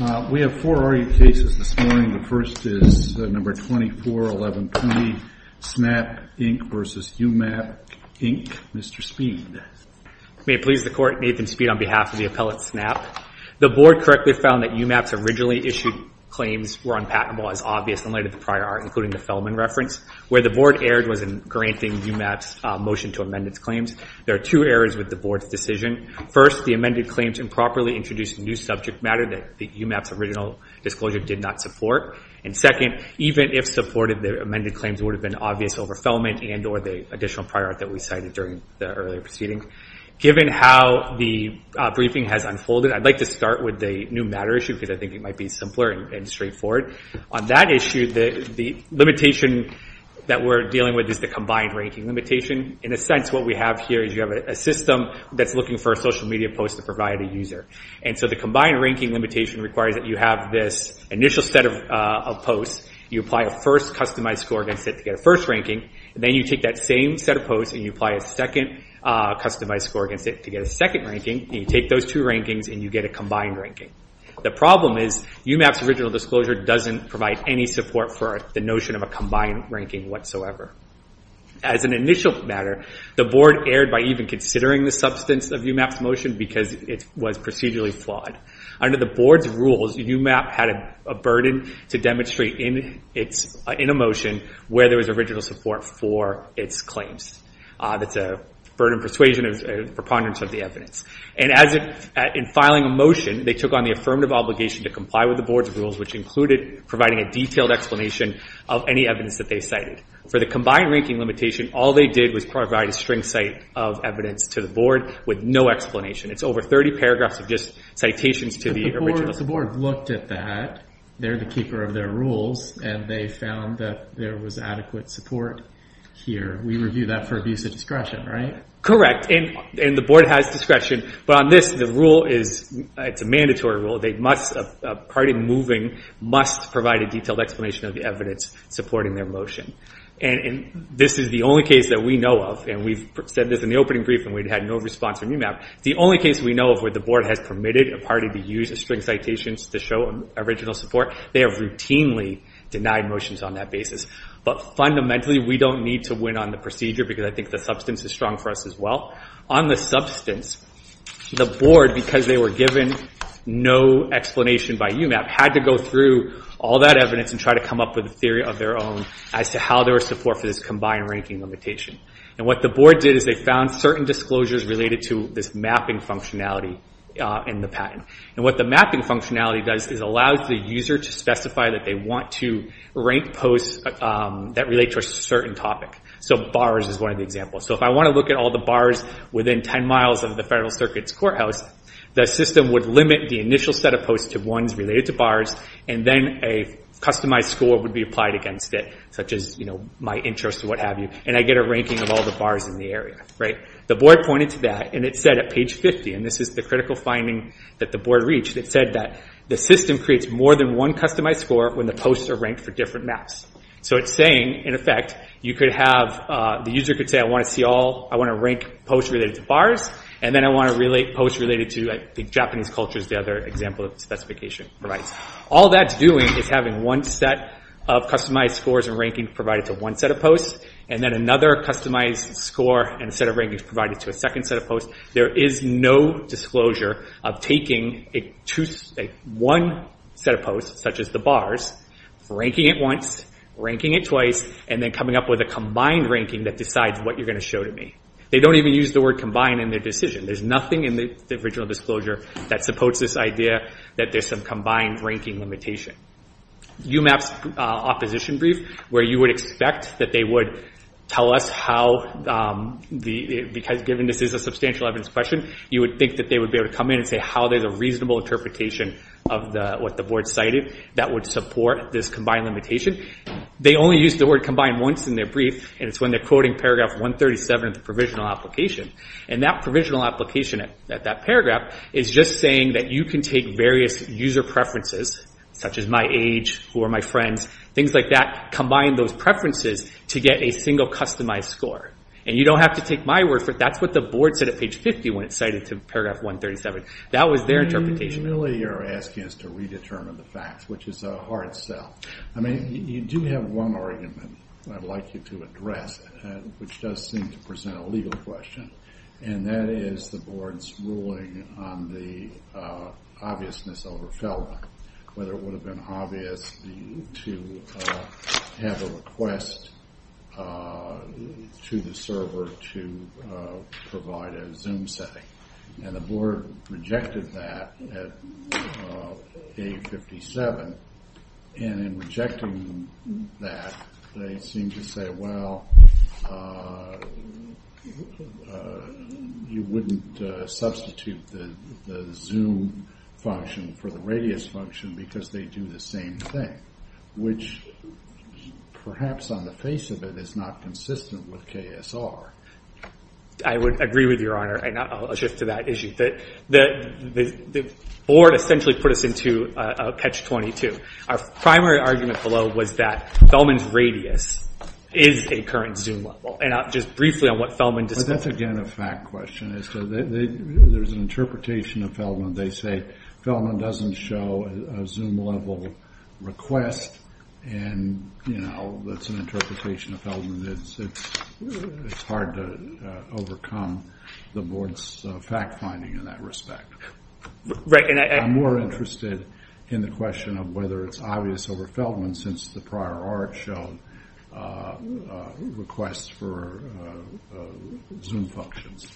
May it please the Court, Nathan Speed on behalf of the appellate SNAP. The Board correctly found that You Map's originally issued claims were unpatentable as obvious in light of the prior art, including the Fellman reference. Where the Board erred was in granting You Map's motion to amend its claims. There are two errors with the Board's decision. First, the amended claims improperly introduced new subject matter that You Map's original disclosure did not support. Second, even if supported, the amended claims would have been obvious over Fellman and or the additional prior art that we cited during the earlier proceedings. Given how the briefing has unfolded, I'd like to start with the new matter issue because I think it might be simpler and straightforward. On that issue, the limitation that we're dealing with is the combined ranking limitation. In a sense, what we have here is you have a system that's looking for a social media post to provide a user. The combined ranking limitation requires that you have this initial set of posts. You apply a first customized score against it to get a first ranking. Then you take that same set of posts and you apply a second customized score against it to get a second ranking. You take those two rankings and you get a combined ranking. The problem is You Map's original disclosure doesn't provide any support for the notion of a combined ranking whatsoever. As an initial matter, the Board erred by even considering the substance of You Map's motion because it was procedurally flawed. Under the Board's rules, You Map had a burden to demonstrate in a motion where there was original support for its claims. That's a burden of persuasion and preponderance of the evidence. In filing a motion, they took on the affirmative obligation to comply with the Board's rules which included providing a detailed explanation of any evidence that they cited. For the combined ranking limitation, all they did was provide a string cite of evidence to the Board with no explanation. It's over 30 paragraphs of just citations to the original. The Board looked at that. They're the keeper of their rules and they found that there was adequate support here. We review that for abuse of discretion, right? Correct. The Board has discretion. On this, the rule is a mandatory rule. A party moving must provide a detailed explanation of the evidence supporting their motion. This is the only case that we know of. We've said this in the opening brief and we've had no response from You Map. The only case we know of where the Board has permitted a party to use a string of citations to show original support, they have routinely denied motions on that basis. Fundamentally, we don't need to win on the procedure because I think the substance is strong for us as well. On the substance, the Board, because they were given no explanation by You Map, had to go through all that evidence and try to come up with a theory of their own as to how there was support for this combined ranking limitation. What the Board did is they found certain disclosures related to this mapping functionality in the patent. What the mapping functionality does is allows the user to specify that they want to rank posts that relate to a certain topic. Bars is one of the examples. If I want to look at all the bars within 10 miles of the Federal Circuit's courthouse, the system would limit the initial set of posts to ones related to bars and then a customized score would be applied against it, such as my interest or what have you, and I get a ranking of all the bars in the area. The Board pointed to that and it said at page 50, and this is the critical finding that the Board reached, it said that the system creates more than one customized score when the posts are ranked for different maps. So it's saying, in effect, the user could say I want to rank posts related to bars and then I want to rank posts related to the Japanese culture as the other example of the specification provides. All that's doing is having one set of customized scores and rankings provided to one set of posts and then another customized score and set of rankings provided to a second set of posts. There is no disclosure of taking one set of posts, such as the bars, ranking it once, ranking it twice, and then coming up with a combined ranking that decides what you're going to show to me. They don't even use the word combined in their decision. There's this idea that there's some combined ranking limitation. UMAP's opposition brief, where you would expect that they would tell us how, because given this is a substantial evidence question, you would think that they would be able to come in and say how there's a reasonable interpretation of what the Board cited that would support this combined limitation. They only use the word combined once in their brief and it's when they're quoting paragraph 137 of the provisional application. That provisional application at that paragraph is just saying that you can take various user preferences, such as my age, who are my friends, things like that, combine those preferences to get a single customized score. You don't have to take my word for it. That's what the Board said at page 50 when it cited to paragraph 137. That was their interpretation. You really are asking us to redetermine the facts, which is a hard sell. You do have one argument I'd like you to address, which does seem to present a legal question, and that is the Board's ruling on the obviousness over Felder, whether it would have been obvious to have a request to the server to provide a Zoom setting. The Board rejected that at the time. They seemed to say, well, you wouldn't substitute the Zoom function for the Radius function because they do the same thing, which perhaps on the face of it is not consistent with KSR. I would agree with Your Honor, and I'll shift to that issue. The Board essentially put us to catch 22. Our primary argument below was that Feldman's Radius is a current Zoom level. Just briefly on what Feldman discussed. That's again a fact question. There's an interpretation of Feldman. They say Feldman doesn't show a Zoom level request. That's an interpretation of Feldman. It's hard to overcome the Board's fact finding in that respect. I'm more interested in the question of whether it's obvious over Feldman since the prior art showed requests for Zoom functions.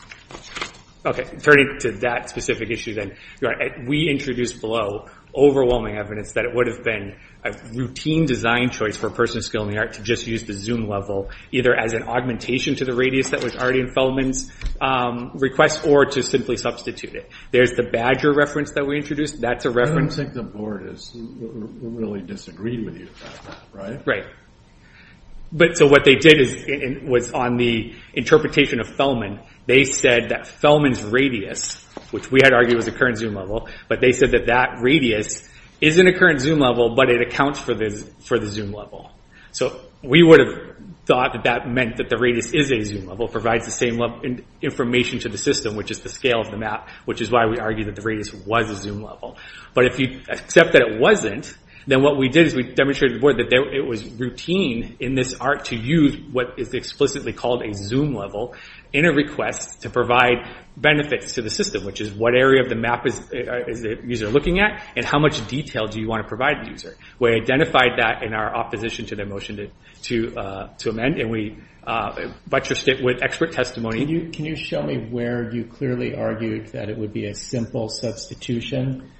We introduced below overwhelming evidence that it would have been a routine design choice for a person of skill in the art to just use the Zoom level, either as an augmentation to the Radius that was already in Feldman's request, or to simply substitute it. There's the Badger reference that we introduced. That's a reference. I don't think the Board has really disagreed with you. Right. What they did was on the interpretation of Feldman, they said that Feldman's Radius, which we had argued was a current Zoom level, but they said that that Radius isn't a current Zoom level, but it accounts for the Zoom level. We would have thought that that meant that the Radius is a Zoom level, provides the same level of information to the system, which is the scale of the map, which is why we argued that the Radius was a Zoom level. But if you accept that it wasn't, then what we did is we demonstrated to the Board that it was routine in this art to use what is explicitly called a Zoom level in a request to provide benefits to the system, which is what area of the map is the user looking at and how much detail do you want to provide the user. We identified that in our opposition to the motion to amend, and we butchered it with expert testimony. Can you show me where you clearly argued that it would be a simple substitution?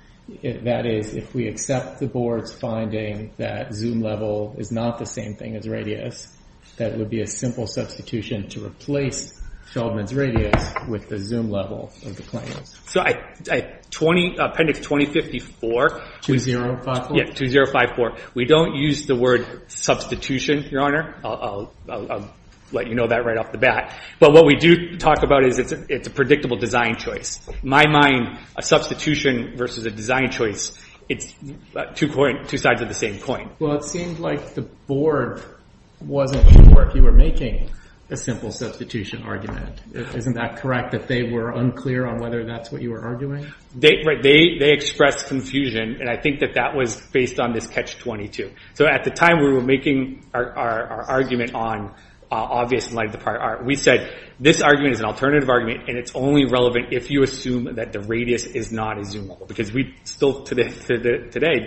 That is, if we accept the Board's finding that Zoom level is not the same thing as Radius, that would be a simple substitution to replace Feldman's Radius with the Zoom level of the plan. So appendix 2054, 2054, we don't use the word substitution, Your Honor. I'll let you know that right off the bat. But what we do talk about is it's a predictable design choice. My mind, a substitution versus a design choice, it's two sides of the same coin. Well, it seems like the Board wasn't sure if you were making a simple substitution argument. Isn't that correct, that they were unclear on whether that's what you were arguing? They expressed confusion, and I think that that was based on this catch-22. At the time we were making our argument on Obvious in light of the prior art, we said, this argument is an alternative argument, and it's only relevant if you assume that the Radius is not a Zoom level, because we still, today,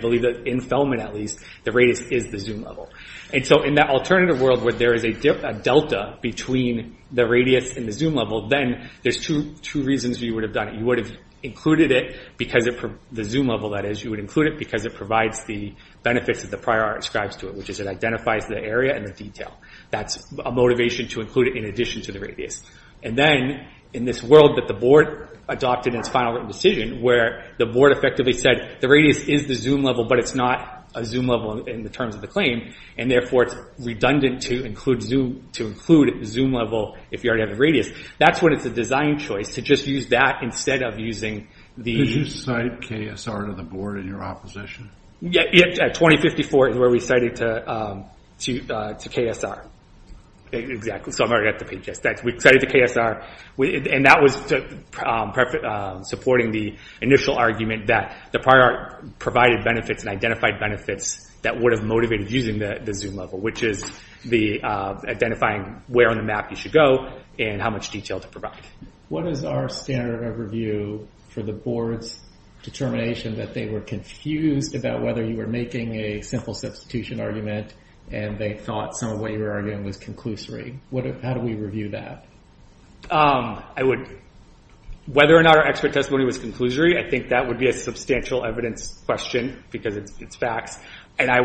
believe that, in Feldman at least, the Radius is the Zoom level. In that alternative world, where there is a delta between the Radius and the Zoom level, then there's two reasons you would have done it. You would have included it because of the Zoom level, that is. You would include it because it provides the benefits that the prior art ascribes to it, which is it identifies the area and the detail. That's a motivation to include it in addition to the Radius. And then, in this world that the Board adopted in its final written decision, where the Board effectively said, the Radius is the Zoom level, but it's not a Zoom level in the terms of the claim, and therefore, it's redundant to include Zoom level if you already have a Radius. That's when it's a design choice to just use that instead of using the... Did you cite KSR to the Board in your opposition? Yeah, at 2054, where we cited to KSR. Exactly. So, I'm already at the page. We cited to KSR, and that was supporting the initial argument that the prior art provided benefits and identified benefits that would have motivated using the Zoom level, which is the identifying where on the map you should go and how much detail to provide. What is our standard of review for the Board's determination that they were confused about whether you were making a simple substitution argument, and they thought some of what you were arguing was conclusory? How do we review that? Whether or not our expert testimony was conclusory, I think that would be a substantial evidence question because it's facts, and I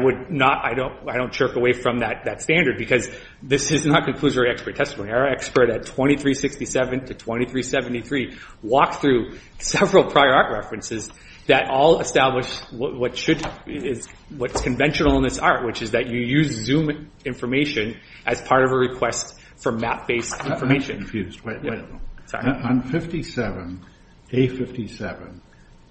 don't jerk away from that standard because this is not conclusory expert testimony. Our expert at 2367 to 2373 walked through several prior art references that all established what's conventional in this art, which is that you use Zoom information as part of a request for map-based information. On A57,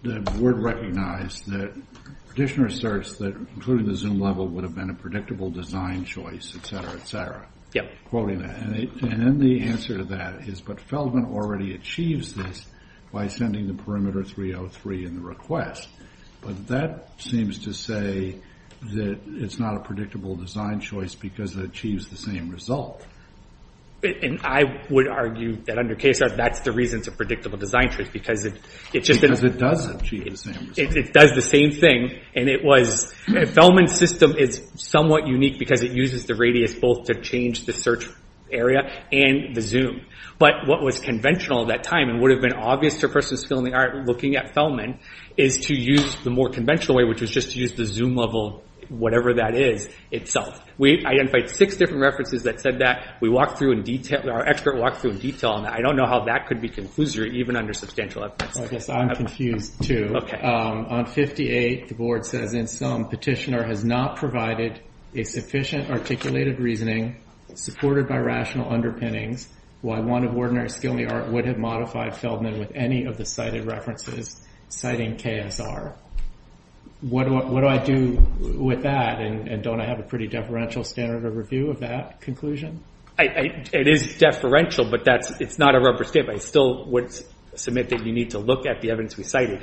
the Board recognized that the petitioner asserts that including the Zoom level would have been a predictable design choice, etc., etc., and then the answer to that is, but Feldman already achieves this by sending the perimeter 303 in the request, but that seems to say that it's not a predictable design choice because it achieves the same result. And I would argue that under KSR, that's the reason it's a predictable design choice because it does the same thing. Feldman's system is somewhat unique because it uses the radius both to change the search area and the Zoom, but what was conventional at that time and would have been obvious to a person still in the art looking at Feldman is to use the more conventional way, which was just to use the Zoom level, whatever that is, itself. I identified six different references that said that. We walked through in detail, our expert walked through in detail on that. I don't know how that could be conclusory even under substantial evidence. I guess I'm confused, too. On 58, the Board says, in sum, petitioner has not provided a sufficient articulated reasoning supported by rational underpinnings, while one of ordinary skill in the art would have modified Feldman with any of the cited references, citing KSR. What do I do with that, and don't I have a pretty deferential standard of review of that conclusion? It is deferential, but it's not a rubber stamp. I still would submit that you need to look at the evidence we cited.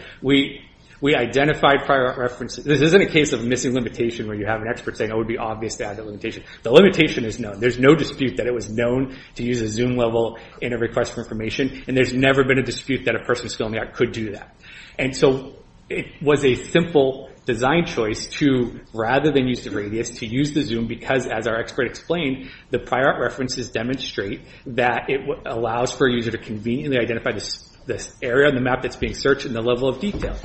We identified prior references. This isn't a case of missing limitation where you have an expert saying it would be obvious to add the limitation. The limitation is known. There's no dispute that it was known to use a Zoom level in a request for information, and there's never been a dispute that a person still in the art could do that. So it was a simple design choice to, rather than use the radius, to use the Zoom because, as our expert explained, the prior art references demonstrate that it allows for a user to conveniently identify this area on the map that's being searched and the level of detail.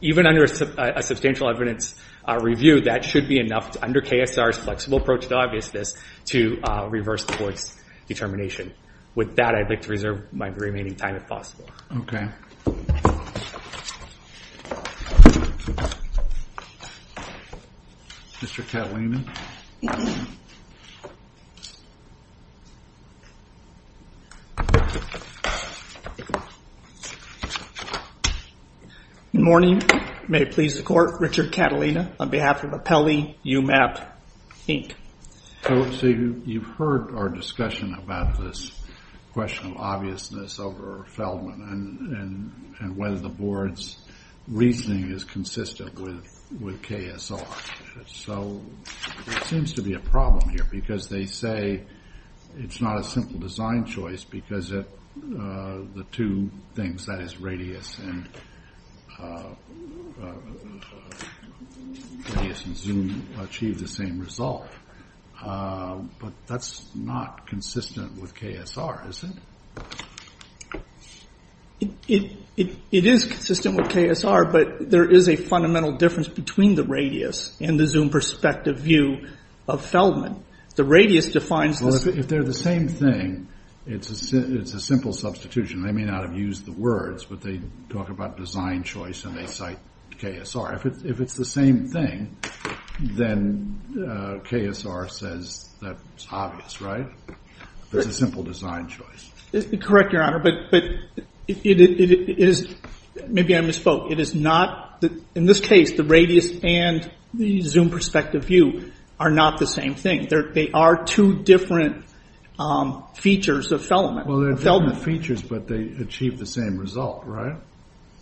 Even under a substantial evidence review, that should be enough under KSR's flexible approach to obviousness to reverse the Board's determination. With that, I'd like to reserve my remaining time, if possible. Okay. Mr. Catalina? Good morning. May it please the Court, Richard Catalina on behalf of Apelli UMAP, Inc. So you've heard our discussion about this question of obviousness over Feldman and whether the Board's reasoning is consistent with KSR. So there seems to be a problem here, because they say it's not a simple design choice because the two things, that is, radius and Zoom, achieve the same result, but that's not consistent with KSR, is it? It is consistent with KSR, but there is a fundamental difference between the radius and the Zoom perspective view of Feldman. The radius defines the… Well, if they're the same thing, it's a simple substitution. They may not have used the words, but they talk about design choice and they cite KSR. If it's the same thing, then KSR says that's obvious, right? It's a simple design choice. Correct, Your Honor, but it is… Maybe I misspoke. It is not… In this case, the radius and the Zoom perspective view are not the same thing. They are two different features of Feldman. Well, they're different features, but they achieve the same result, right?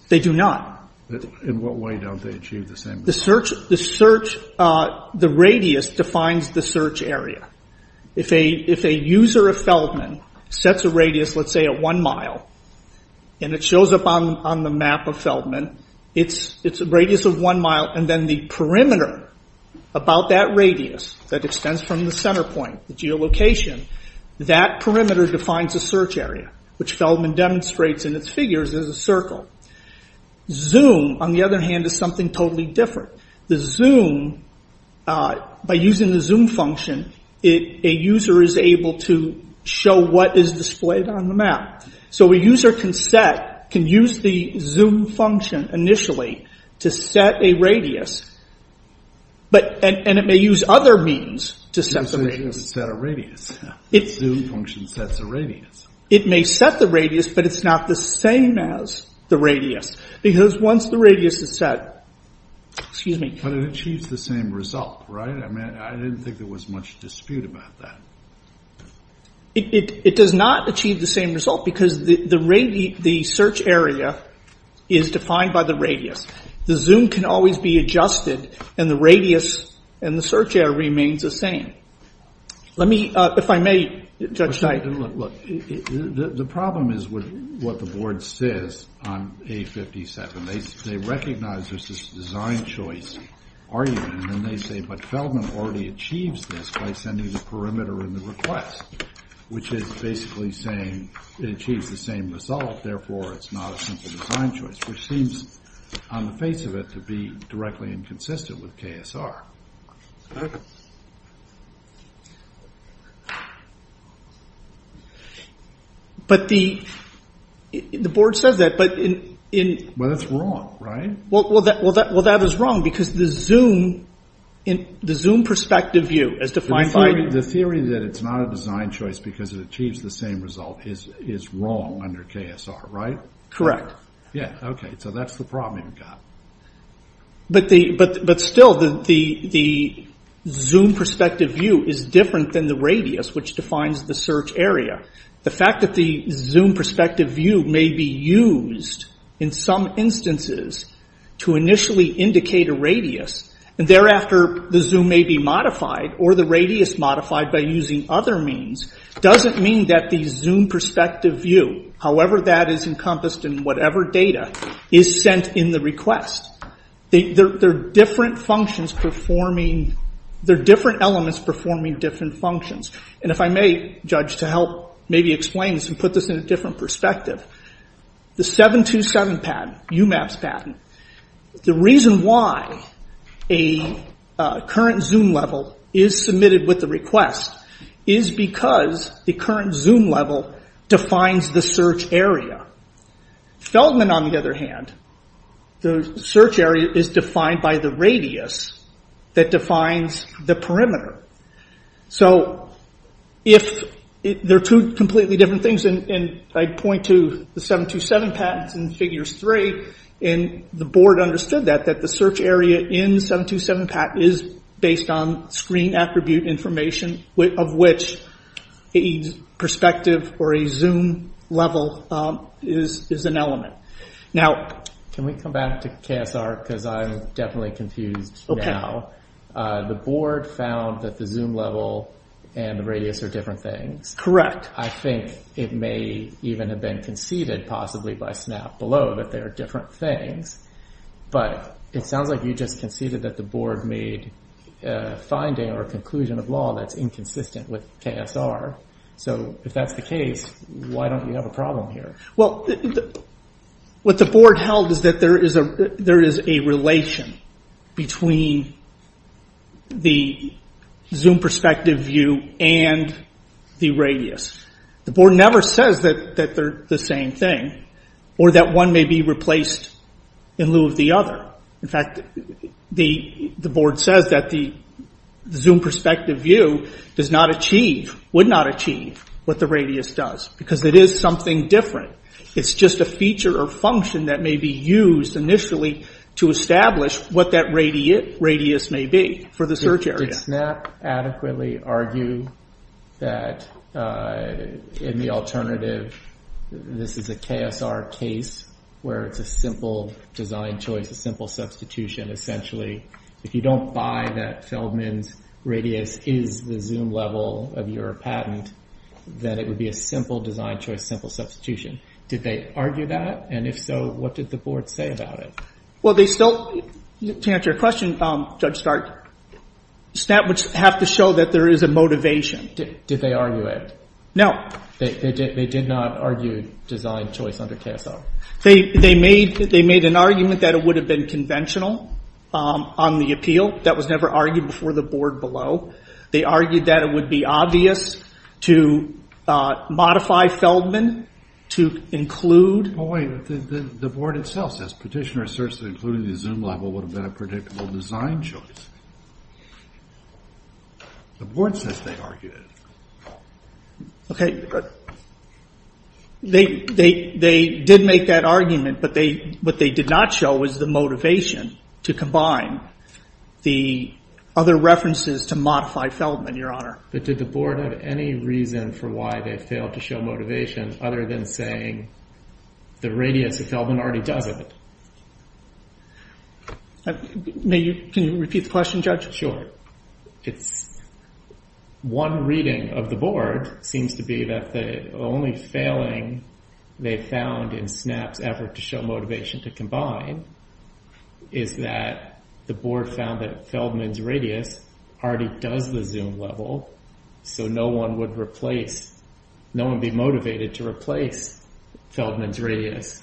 They do not. In what way don't they achieve the same result? The radius defines the search area. If a user of Feldman sets a radius, let's say at one mile, and it shows up on the map of Feldman, it's a radius of one mile, and then the perimeter about that radius that extends from the center point, the geolocation, that perimeter defines a search area, which Feldman demonstrates in its figures as a circle. Zoom, on the other hand, is something totally different. The Zoom, by using the Zoom function, a user is able to show what is displayed on the map. So a user can use the Zoom function initially to set a radius, and it may use other means to set the radius. So you can set a radius. The Zoom function sets a radius. It may set the radius, but it's not the same as the radius. Because once the radius is set, it achieves the same result, right? I mean, I didn't think there was much dispute about that. It does not achieve the same result because the search area is defined by the radius. The Zoom can always be adjusted, and the radius and the search area remains the same. Let me, if I may, Judge Knight. The problem is with what the board says on A57. They recognize this design choice argument, and then they say, but Feldman already achieves this by sending the perimeter in the request, which is basically saying it achieves the same result. Therefore, it's not a simple design choice, which seems on the face of it to be directly inconsistent with KSR. But the board says that, but in... Well, that's wrong, right? Well, that is wrong because the Zoom perspective view is defined by... The theory that it's not a design choice because it achieves the same result is wrong under KSR, right? Correct. Yeah, okay. So that's the problem you've got. But still, the Zoom perspective view is different than the radius, which defines the search area. The fact that the Zoom perspective view may be used in some instances to initially indicate a radius, and thereafter, the Zoom may be modified or the radius modified by using other means, doesn't mean that the Zoom perspective view, however that is encompassed in whatever data, is sent in the request. They're different functions performing... They're different elements performing different functions. And if I may, Judge, to help maybe explain this and put this in a different perspective, the 727 patent, UMAP's patent, the reason why a current Zoom level is submitted with the request is because the current Zoom level defines the search area. Feldman, on the other hand, the search area is defined by the radius that defines the perimeter. So, if they're two completely different things, and I point to the 727 patent in figures three, and the board understood that, that the search area in the 727 patent is based on screen attribute information, of which a perspective or a Zoom level is an element. Now... Can we come back to KSR, because I'm definitely confused now. Okay. The board found that the Zoom level and the radius are different things. Correct. I think it may even have been conceded, possibly by SNAP below, that they are different things. But it sounds like you just conceded that the board made a finding or a conclusion of law that's inconsistent with KSR. So, if that's the case, why don't you have a problem here? Well, what the board held is that there is a relation between the Zoom perspective view and the radius. The board never says that they're the same thing, or that one may be replaced in lieu of the other. In fact, the board says that the Zoom perspective view does not achieve, would not achieve, what the radius does, because it is something different. It's just a feature or function that may be used initially to establish what that radius may be for the search area. Did SNAP adequately argue that, in the alternative, this is a KSR case, where it's a simple design choice, a simple substitution, essentially, if you don't buy that Feldman's radius is the Zoom level of your patent, then it would be a simple design choice, simple substitution. Did they argue that? And if so, what did the board say about it? Well, they still, to answer your question, Judge Stark, SNAP would have to show that there is a motivation. Did they argue it? No. They did not argue design choice under KSR? They made an argument that it would have been conventional on the appeal. That was never argued before the board below. They argued that it would be obvious to modify Feldman to include. Oh, wait. The board itself says petitioner asserts that including the Zoom level would have been a predictable design choice. The board says they argued it. Okay. Good. They did make that argument, but what they did not show was the motivation to combine the other references to modify Feldman, Your Honor. But did the board have any reason for why they failed to show motivation other than saying the radius of Feldman already does it? Can you repeat the question, Judge? Sure. It's one reading of the board seems to be that the only failing they found in SNAP's effort to show motivation to combine is that the board found that Feldman's radius already does the Zoom level, so no one would be motivated to replace Feldman's radius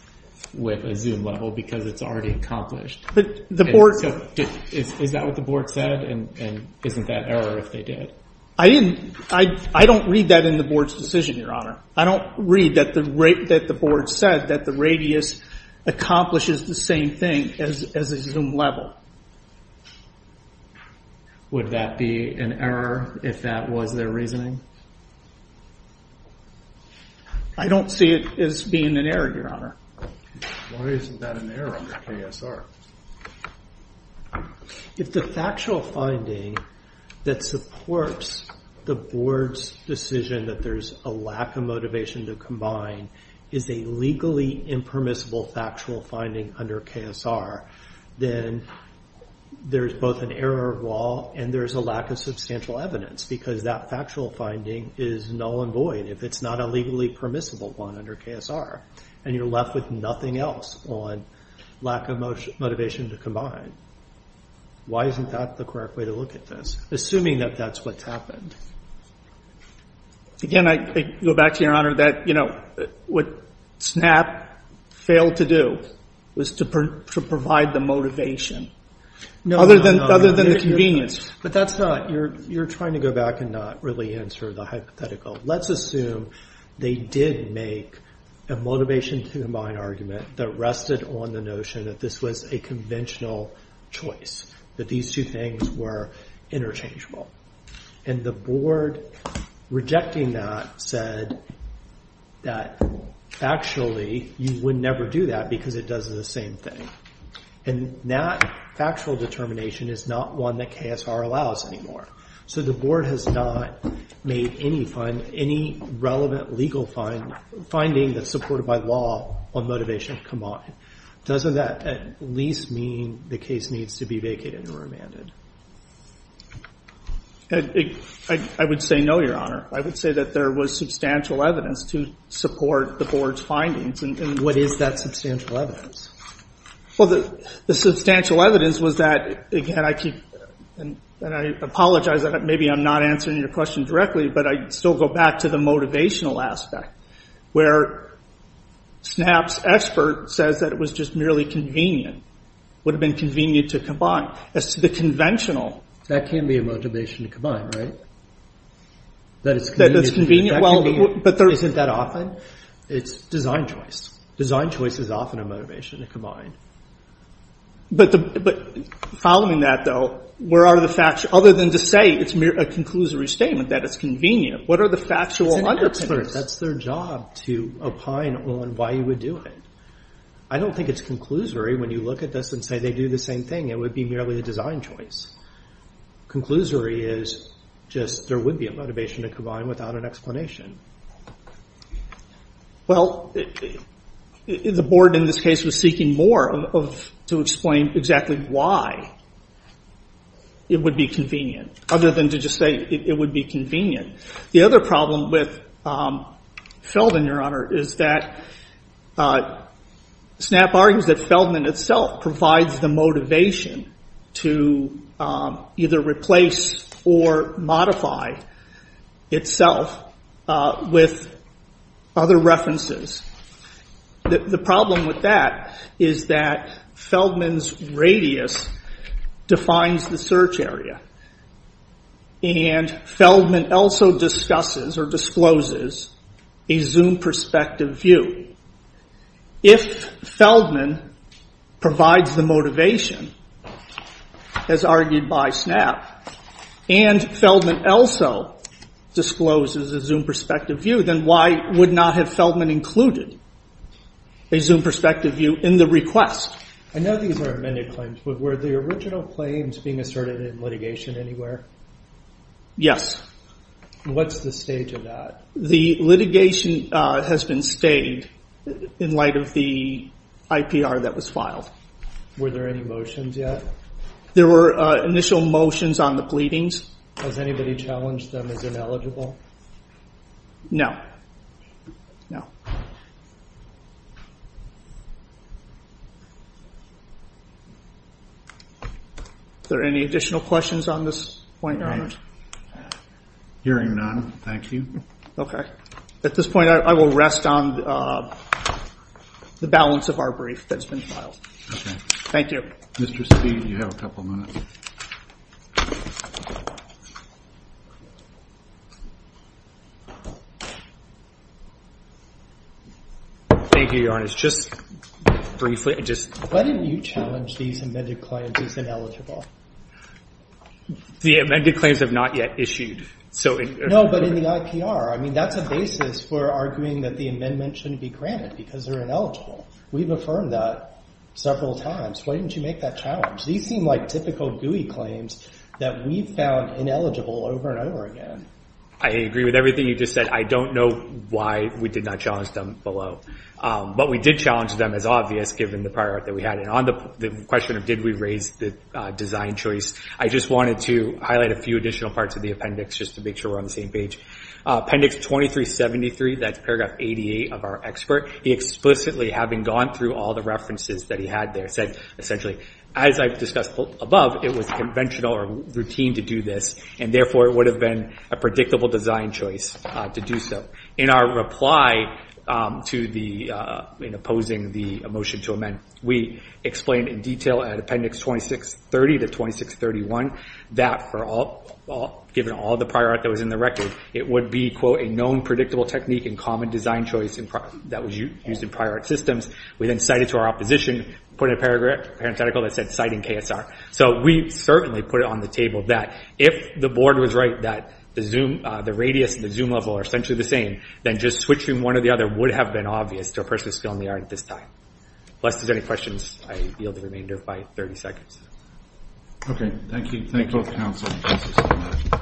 with a Zoom level because it's already accomplished. Is that what the board said? And isn't that error if they did? I don't read that in the board's decision, Your Honor. I don't read that the board said that the radius accomplishes the same thing as a Zoom level. Would that be an error if that was their reasoning? I don't see it as being an error, Your Honor. Why isn't that an error under KSR? If the factual finding that supports the board's decision that there's a lack of motivation to combine is a legally impermissible factual finding under KSR, then there's both an error of law and there's a lack of substantial evidence because that factual finding is null and void if it's not a legally permissible one under KSR, and you're left with nothing else on lack of motivation to combine. Why isn't that the correct way to look at this, assuming that that's what's Again, I go back to Your Honor that what SNAP failed to do was to provide the motivation other than the convenience. But that's not, you're trying to go back and not really answer the hypothetical. Let's assume they did make a motivation to combine argument that rested on the notion that this was a conventional choice. That these two things were interchangeable. And the board, rejecting that, said that actually you would never do that because it does the same thing. And that factual determination is not one that KSR allows anymore. So the board has not made any relevant legal finding that's supported by law on motivation to combine. Doesn't that at least mean the case needs to be vacated or remanded? I would say no, Your Honor. I would say that there was substantial evidence to support the board's findings. What is that substantial evidence? The substantial evidence was that, and I apologize, maybe I'm not answering your question directly, but I still go back to the motivational aspect. Where SNAP's expert says that it was just merely convenient. Would have been convenient to combine. As to the conventional. That can be a motivation to combine, right? That it's convenient? Isn't that often? It's design choice. Design choice is often a motivation to combine. But following that though, other than to say it's a conclusory statement that it's convenient, what are the factual underpinnings? That's their job, to opine on why you would do it. I don't think it's conclusory when you look at this and say they do the same thing. It would be merely a design choice. Conclusory is just there would be a motivation to combine without an explanation. Well, the board in this case was seeking more to explain exactly why it would be convenient other than to just say it would be convenient. The other problem with Feldman, Your Honor, is that SNAP argues that Feldman itself provides the motivation to either replace or modify itself with other references. The problem with that is that Feldman's radius defines the search area. And Feldman also discusses or discloses a zoom perspective view. If Feldman provides the motivation, as argued by SNAP, and Feldman also discloses a zoom perspective view, then why would not have Feldman included a zoom perspective view in the request? I know these are amended claims, but were the original claims being asserted in litigation anywhere? Yes. What's the stage of that? The litigation has been stayed in light of the IPR that was filed. Were there any motions yet? There were initial motions on the pleadings. Has anybody challenged them as ineligible? No. Is there any additional questions on this point, Your Honor? Hearing none, thank you. At this point, I will rest on the balance of our brief that's been filed. Okay. Thank you. Mr. Speed, you have a couple minutes. Thank you, Your Honor. Just briefly, just... Why didn't you challenge these amended claims as ineligible? The amended claims have not yet issued, so... No, but in the IPR, I mean, that's a basis for arguing that the amendment shouldn't be granted because they're ineligible. We've affirmed that several times. Why didn't you make that challenge? These seem like typical GUI claims that we've found ineligible over and over again. I agree with everything you just said. I don't know why we did not challenge them below. But we did challenge them as obvious, given the priority that we had. On the question of did we raise the design choice, I just wanted to highlight a few additional parts of the appendix just to make sure we're on the same page. Appendix 2373, that's paragraph 88 of our expert. He explicitly, having gone through all the references that he had there, said essentially, as I've discussed above, it was conventional or routine to do this, and therefore it would have been a predictable design choice to do so. In our reply to the... in opposing the motion to amend, we explained in detail at appendix 2630 to 2631 that given all the prior art that was in the record, it would be a known predictable technique and common design choice that was used in prior art systems. We then cited to our opposition, put in a parenthetical that said citing KSR. We certainly put it on the table that if the board was right that the radius and the zoom level are essentially the same, then just switching one or the other would have been obvious to a person still in the art at this time. Unless there's any questions, I yield the remainder by 30 seconds. Okay, thank you. Thank you all for the counsel.